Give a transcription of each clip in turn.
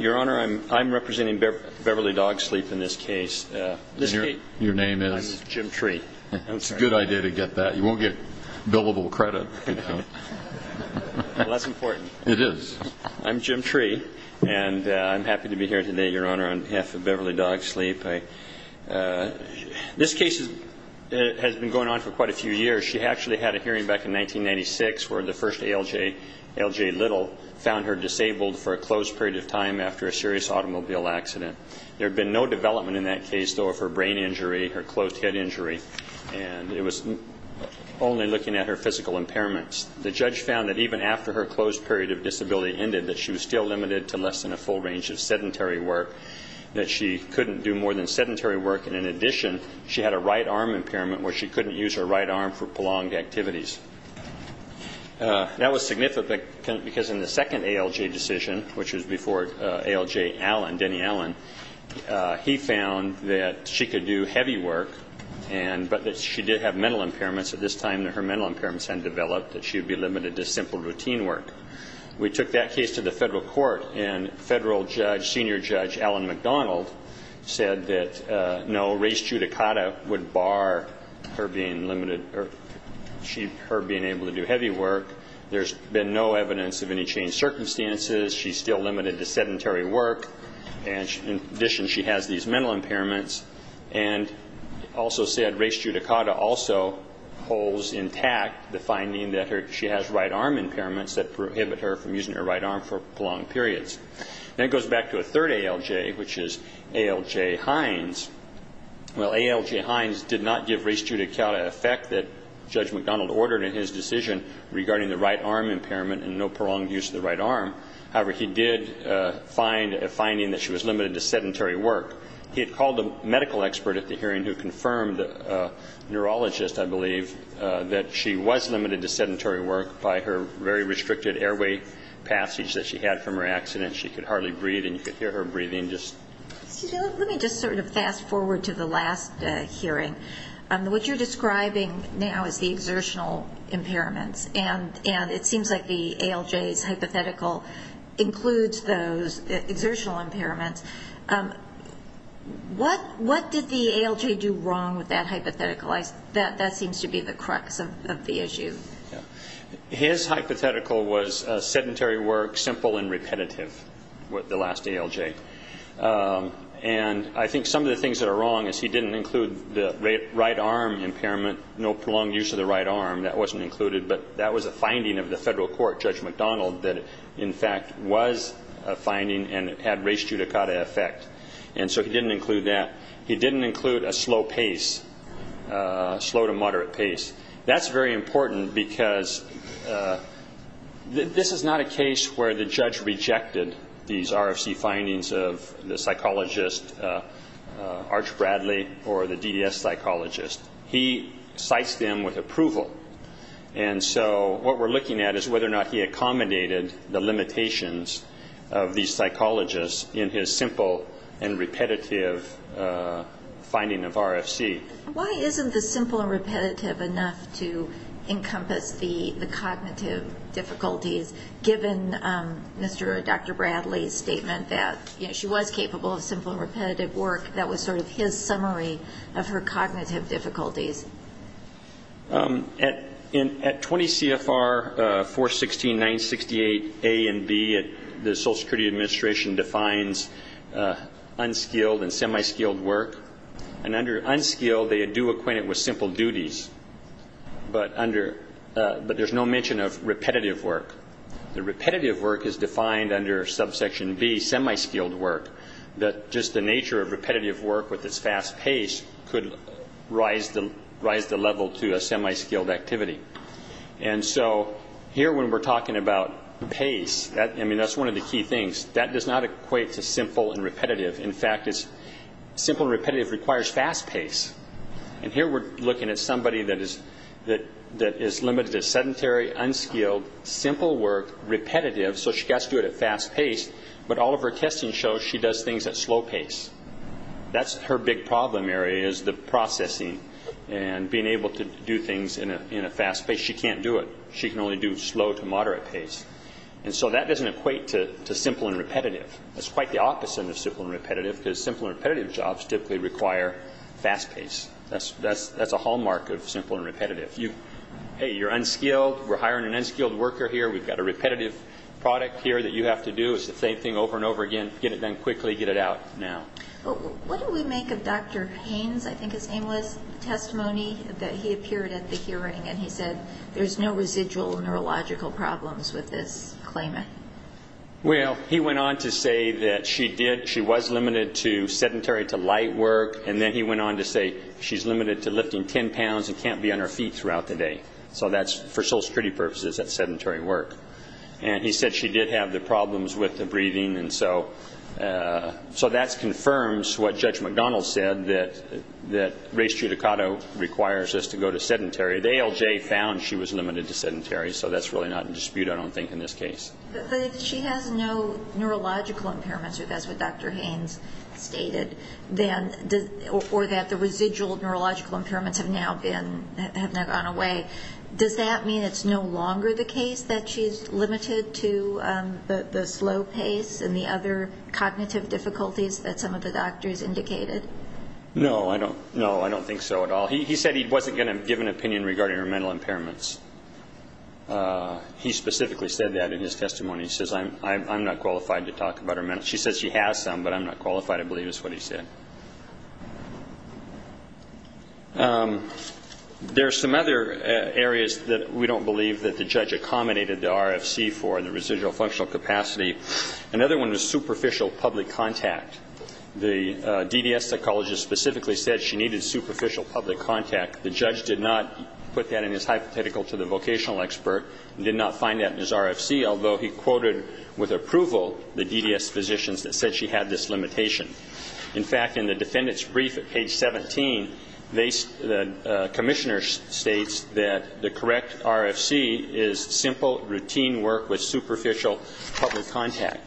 Your Honor, I'm representing Beverly Dogsleep in this case. Your name is? I'm Jim Tree. That's a good idea to get that. You won't get billable credit. Well, that's important. It is. I'm Jim Tree, and I'm happy to be here today, Your Honor, on behalf of Beverly Dogsleep. This case has been going on for quite a few years. She actually had a hearing back in 1996 where the first ALJ, L.J. Little, found her disabled for a closed period of time after a serious automobile accident. There had been no development in that case, though, of her brain injury, her closed head injury, and it was only looking at her physical impairments. The judge found that even after her closed period of disability ended, that she was still limited to less than a full range of sedentary work, that she couldn't do more than sedentary work, and in addition, she had a right arm impairment where she couldn't use her right arm for prolonged activities. That was significant because in the second ALJ decision, which was before ALJ Allen, Denny Allen, he found that she could do heavy work, but that she did have mental impairments at this time and her mental impairments hadn't developed, that she would be limited to simple routine work. We took that case to the federal court, and federal judge, senior judge Allen McDonald, said that, no, res judicata would bar her being limited or her being able to do heavy work. There's been no evidence of any changed circumstances. She's still limited to sedentary work, and in addition, she has these mental impairments. And also said res judicata also holds intact the finding that she has right arm impairments that prohibit her from using her right arm for prolonged periods. Then it goes back to a third ALJ, which is ALJ Hines. Well, ALJ Hines did not give res judicata effect that Judge McDonald ordered in his decision regarding the right arm impairment and no prolonged use of the right arm. However, he did find a finding that she was limited to sedentary work. He had called a medical expert at the hearing who confirmed, a neurologist, I believe, that she was limited to sedentary work by her very restricted airway passage that she had from her accident. She could hardly breathe, and you could hear her breathing just. Let me just sort of fast forward to the last hearing. What you're describing now is the exertional impairments, and it seems like the ALJ's hypothetical includes those exertional impairments. What did the ALJ do wrong with that hypothetical? That seems to be the crux of the issue. His hypothetical was sedentary work, simple and repetitive, the last ALJ. And I think some of the things that are wrong is he didn't include the right arm impairment, no prolonged use of the right arm. That wasn't included, but that was a finding of the federal court, Judge McDonald, that in fact was a finding and had res judicata effect. And so he didn't include that. Slow to moderate pace. That's very important because this is not a case where the judge rejected these RFC findings of the psychologist Arch Bradley or the DDS psychologist. He cites them with approval. And so what we're looking at is whether or not he accommodated the limitations of these psychologists in his simple and repetitive finding of RFC. Why isn't the simple and repetitive enough to encompass the cognitive difficulties, given Dr. Bradley's statement that she was capable of simple and repetitive work? That was sort of his summary of her cognitive difficulties. At 20 CFR 416.968A and B, the Social Security Administration defines unskilled and semi-skilled work. And under unskilled, they do acquaint it with simple duties, but there's no mention of repetitive work. The repetitive work is defined under subsection B, semi-skilled work, that just the nature of repetitive work with its fast pace could rise the level to a semi-skilled activity. And so here when we're talking about pace, I mean, that's one of the key things. That does not equate to simple and repetitive. In fact, simple and repetitive requires fast pace. And here we're looking at somebody that is limited to sedentary, unskilled, simple work, repetitive, so she's got to do it at fast pace, but all of her testing shows she does things at slow pace. That's her big problem area is the processing and being able to do things in a fast pace. She can't do it. She can only do slow to moderate pace. And so that doesn't equate to simple and repetitive. That's quite the opposite of simple and repetitive, because simple and repetitive jobs typically require fast pace. That's a hallmark of simple and repetitive. Hey, you're unskilled. We're hiring an unskilled worker here. We've got a repetitive product here that you have to do. It's the same thing over and over again. Get it done quickly. Get it out now. What do we make of Dr. Haynes' aimless testimony that he appeared at the hearing and he said there's no residual neurological problems with this claimant? Well, he went on to say that she was limited to sedentary to light work, and then he went on to say she's limited to lifting 10 pounds and can't be on her feet throughout the day. So that's, for Social Security purposes, that's sedentary work. And he said she did have the problems with the breathing, and so that confirms what Judge McDonald said, that race judicata requires us to go to sedentary. The ALJ found she was limited to sedentary, so that's really not in dispute, I don't think, in this case. But if she has no neurological impairments, if that's what Dr. Haynes stated, or that the residual neurological impairments have now gone away, does that mean it's no longer the case that she's limited to the slow pace and the other cognitive difficulties that some of the doctors indicated? No, I don't think so at all. He said he wasn't going to give an opinion regarding her mental impairments. He specifically said that in his testimony. She says she has some, but I'm not qualified to believe it's what he said. There are some other areas that we don't believe that the judge accommodated the RFC for, the residual functional capacity. Another one was superficial public contact. The DDS psychologist specifically said she needed superficial public contact. The judge did not put that in his hypothetical to the vocational expert, and did not find that in his RFC, although he quoted with approval the DDS physicians that said she had this limitation. In fact, in the defendant's brief at page 17, the commissioner states that the correct RFC is simple, routine work with superficial public contact.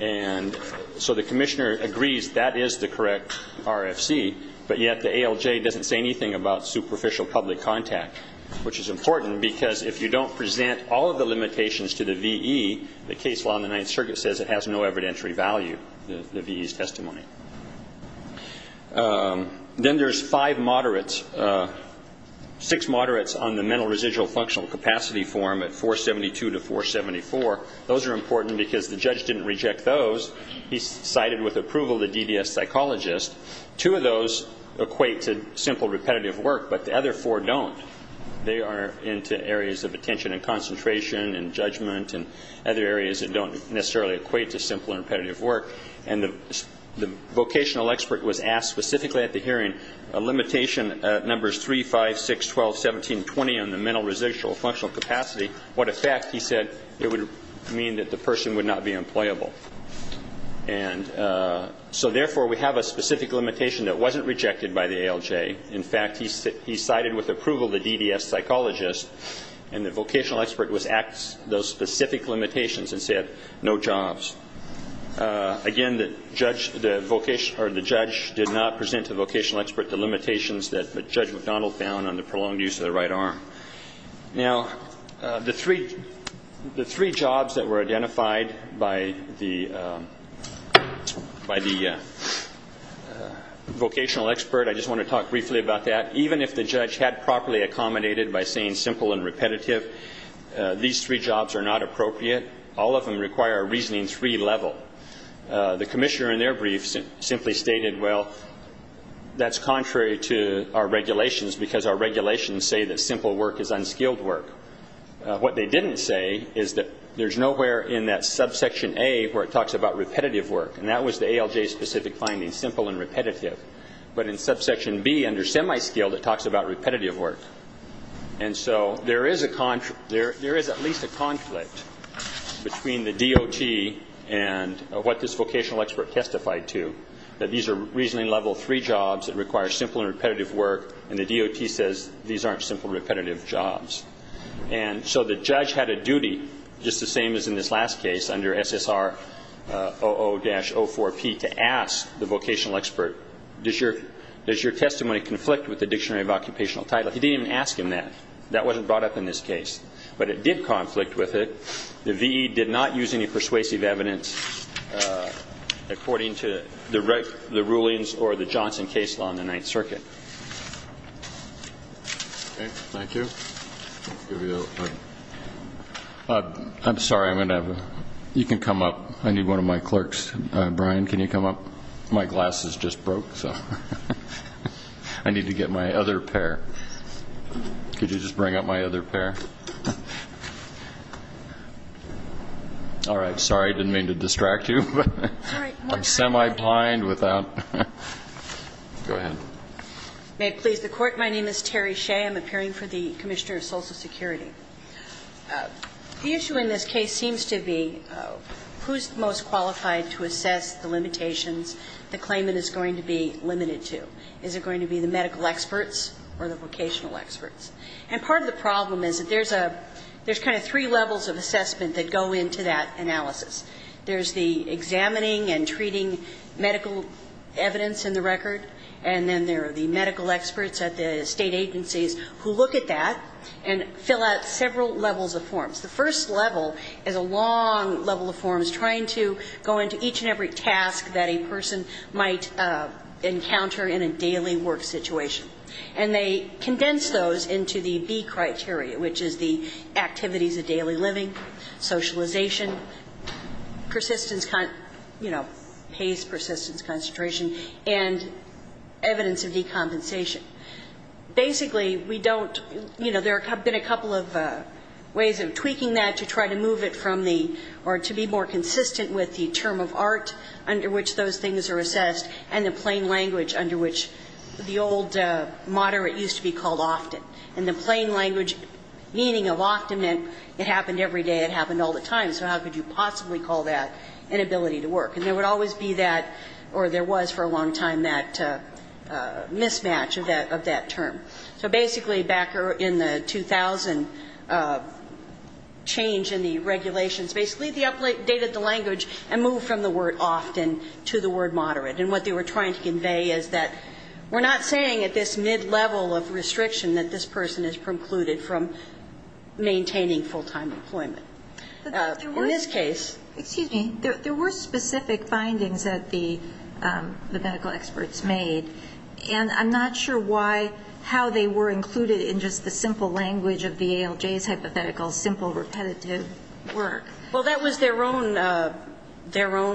And so the commissioner agrees that is the correct RFC, but yet the ALJ doesn't say anything about superficial public contact, which is important because if you don't present all of the limitations to the VE, the case law in the Ninth Circuit says it has no evidentiary value, the VE's testimony. Then there's five moderates, six moderates on the mental residual functional capacity form at 472 to 474. Those are important because the judge didn't reject those. He cited with approval the DDS psychologist. Two of those equate to simple, repetitive work, but the other four don't. They are into areas of attention and concentration and judgment and other areas that don't necessarily equate to simple and repetitive work. And the vocational expert was asked specifically at the hearing, a limitation at numbers 3, 5, 6, 12, 17, 20 on the mental residual functional capacity, what effect, he said, it would mean that the person would not be employable. And so, therefore, we have a specific limitation that wasn't rejected by the ALJ. In fact, he cited with approval the DDS psychologist, and the vocational expert was asked those specific limitations and said no jobs. Again, the judge did not present to the vocational expert the limitations that Judge McDonald found on the prolonged use of the right arm. Now, the three jobs that were identified by the vocational expert, I just want to talk briefly about that. Even if the judge had properly accommodated by saying simple and repetitive, these three jobs are not appropriate. All of them require a reasoning 3 level. The commissioner in their brief simply stated, well, that's contrary to our regulations because our regulations say that simple work is unskilled work. What they didn't say is that there's nowhere in that subsection A where it talks about repetitive work, and that was the ALJ-specific finding, simple and repetitive. But in subsection B, under semi-skilled, it talks about repetitive work. And so there is at least a conflict between the DOT and what this vocational expert testified to, that these are reasoning level 3 jobs that require simple and repetitive work, and the DOT says these aren't simple and repetitive jobs. And so the judge had a duty, just the same as in this last case under SSR 00-04P, to ask the vocational expert, does your testimony conflict with the dictionary of occupational title? He didn't even ask him that. That wasn't brought up in this case. But it did conflict with it. The V.E. did not use any persuasive evidence according to the rulings or the Johnson case law in the Ninth Circuit. Thank you. I'm sorry. You can come up. I need one of my clerks. Brian, can you come up? My glasses just broke, so I need to get my other pair. Could you just bring up my other pair? All right. Sorry, I didn't mean to distract you. I'm semi-blind without. Go ahead. May it please the Court. My name is Terry Shea. I'm appearing for the Commissioner of Social Security. The issue in this case seems to be who's most qualified to assess the limitations the claimant is going to be limited to. Is it going to be the medical experts or the vocational experts? And part of the problem is that there's kind of three levels of assessment that go into that analysis. There's the examining and treating medical evidence in the record, and then there are the medical experts at the state agencies who look at that and fill out several levels of forms. The first level is a long level of forms trying to go into each and every task that a person might encounter in a daily work situation. And they condense those into the B criteria, which is the activities of daily living, socialization, persistence, you know, pace, persistence, concentration, and evidence of decompensation. Basically, we don't, you know, there have been a couple of ways of tweaking that to try to move it from the or to be more consistent with the term of art under which those things are assessed and the plain language under which the old moderate used to be called often. And the plain language meaning of often meant it happened every day, it happened all the time. So how could you possibly call that inability to work? And there would always be that or there was for a long time that mismatch of that term. So basically back in the 2000 change in the regulations, basically they updated the language and moved from the word often to the word moderate. And what they were trying to convey is that we're not saying at this mid-level of restriction that this person is precluded from maintaining full-time employment. In this case. But there were specific findings that the medical experts made, and I'm not sure why, how they were included in just the simple language of the ALJ's hypothetical simple repetitive work. Well, that was their own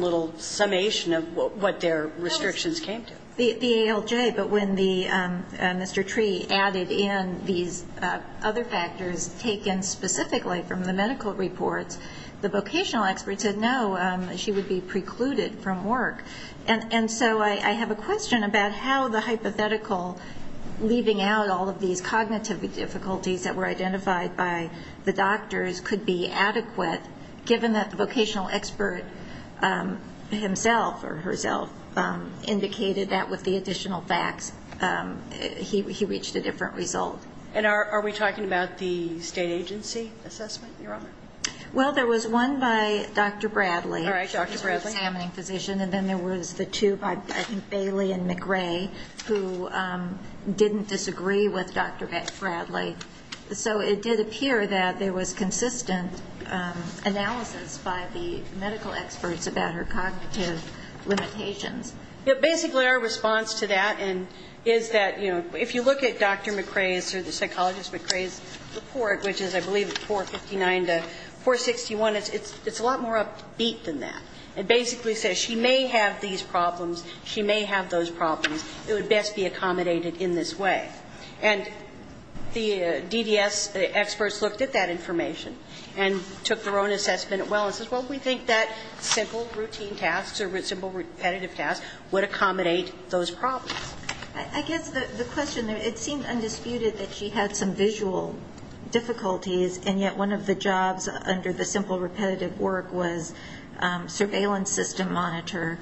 little summation of what their restrictions came to. The ALJ, but when Mr. Tree added in these other factors taken specifically from the medical reports, the vocational experts said no, she would be precluded from work. And so I have a question about how the hypothetical leaving out all of these cognitive difficulties that were identified by the doctors could be adequate given that the vocational expert himself or herself indicated that with the additional facts he reached a different result. And are we talking about the state agency assessment you're on? Well, there was one by Dr. Bradley. All right, Dr. Bradley. And then there was the two by Bailey and McRae who didn't disagree with Dr. Bradley. So it did appear that there was consistent analysis by the medical experts about her cognitive limitations. Yeah, basically our response to that is that, you know, if you look at Dr. McRae's or the psychologist McRae's report, which is I believe 459 to 461, it's a lot more upbeat than that. It basically says she may have these problems, she may have those problems. It would best be accommodated in this way. And the DDS experts looked at that information and took their own assessment as well and said, well, we think that simple routine tasks or simple repetitive tasks would accommodate those problems. I guess the question, it seemed undisputed that she had some visual difficulties, and yet one of the jobs under the simple repetitive work was surveillance system monitor,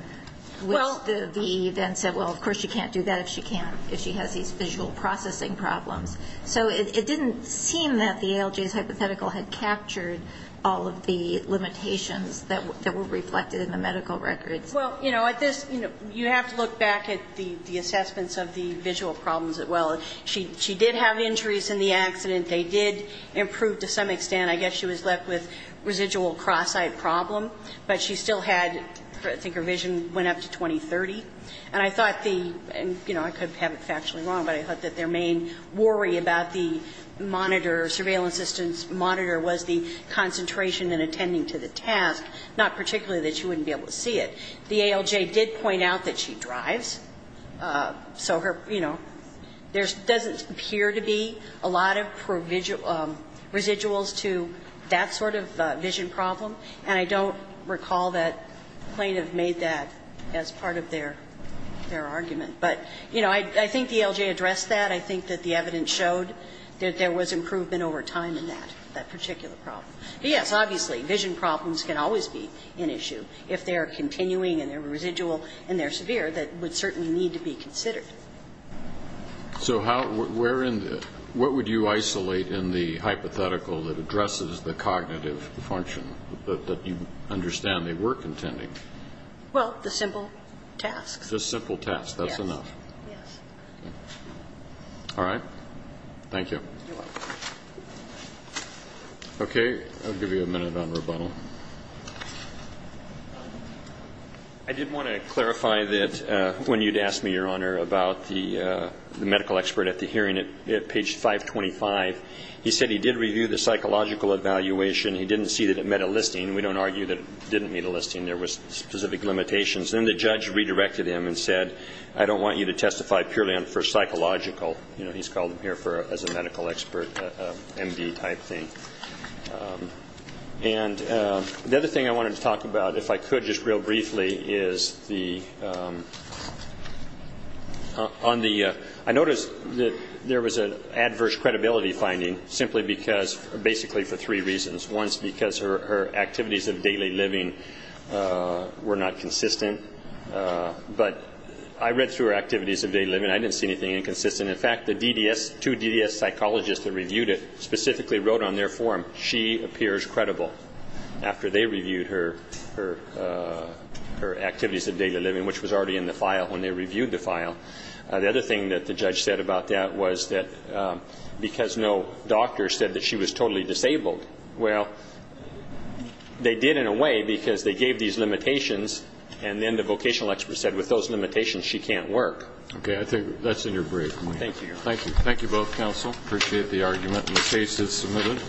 which the VE then said, well, of course she can't do that if she has these visual processing problems. So it didn't seem that the ALJ's hypothetical had captured all of the limitations that were reflected in the medical records. Well, you know, at this, you have to look back at the assessments of the visual problems as well. She did have injuries in the accident. They did improve to some extent. I guess she was left with residual cross-eyed problem. But she still had, I think her vision went up to 20-30. And I thought the, you know, I could have it factually wrong, but I thought that their main worry about the monitor, surveillance system monitor was the concentration and attending to the task, not particularly that she wouldn't be able to see it. The ALJ did point out that she drives. So her, you know, there doesn't appear to be a lot of residuals to that sort of vision problem, and I don't recall that plaintiff made that as part of their argument. But, you know, I think the ALJ addressed that. I think that the evidence showed that there was improvement over time in that, that particular problem. But, yes, obviously, vision problems can always be an issue if they are continuing and they're residual and they're severe, that would certainly need to be considered. So how, where in the, what would you isolate in the hypothetical that addresses the cognitive function that you understand they were contending? Well, the simple tasks. The simple tasks. That's enough. Yes. All right. Thank you. You're welcome. Okay. I'll give you a minute on rebuttal. I did want to clarify that when you'd asked me, Your Honor, about the medical expert at the hearing at page 525, he said he did review the psychological evaluation. He didn't see that it met a listing. We don't argue that it didn't meet a listing. There was specific limitations. Then the judge redirected him and said, I don't want you to testify purely for psychological. You know, he's called him here as a medical expert, MD type thing. And the other thing I wanted to talk about, if I could just real briefly, is the, on the, I noticed that there was an adverse credibility finding simply because, basically for three reasons. One is because her activities of daily living were not consistent. But I read through her activities of daily living. I didn't see anything inconsistent. In fact, the DDS, two DDS psychologists that reviewed it specifically wrote on their form, she appears credible after they reviewed her activities of daily living, which was already in the file when they reviewed the file. The other thing that the judge said about that was that because no doctor said that she was totally disabled. Well, they did in a way because they gave these limitations, and then the vocational expert said with those limitations she can't work. Okay. I think that's in your brief. Thank you. Thank you. Thank you both, counsel. Appreciate the argument. The case is submitted.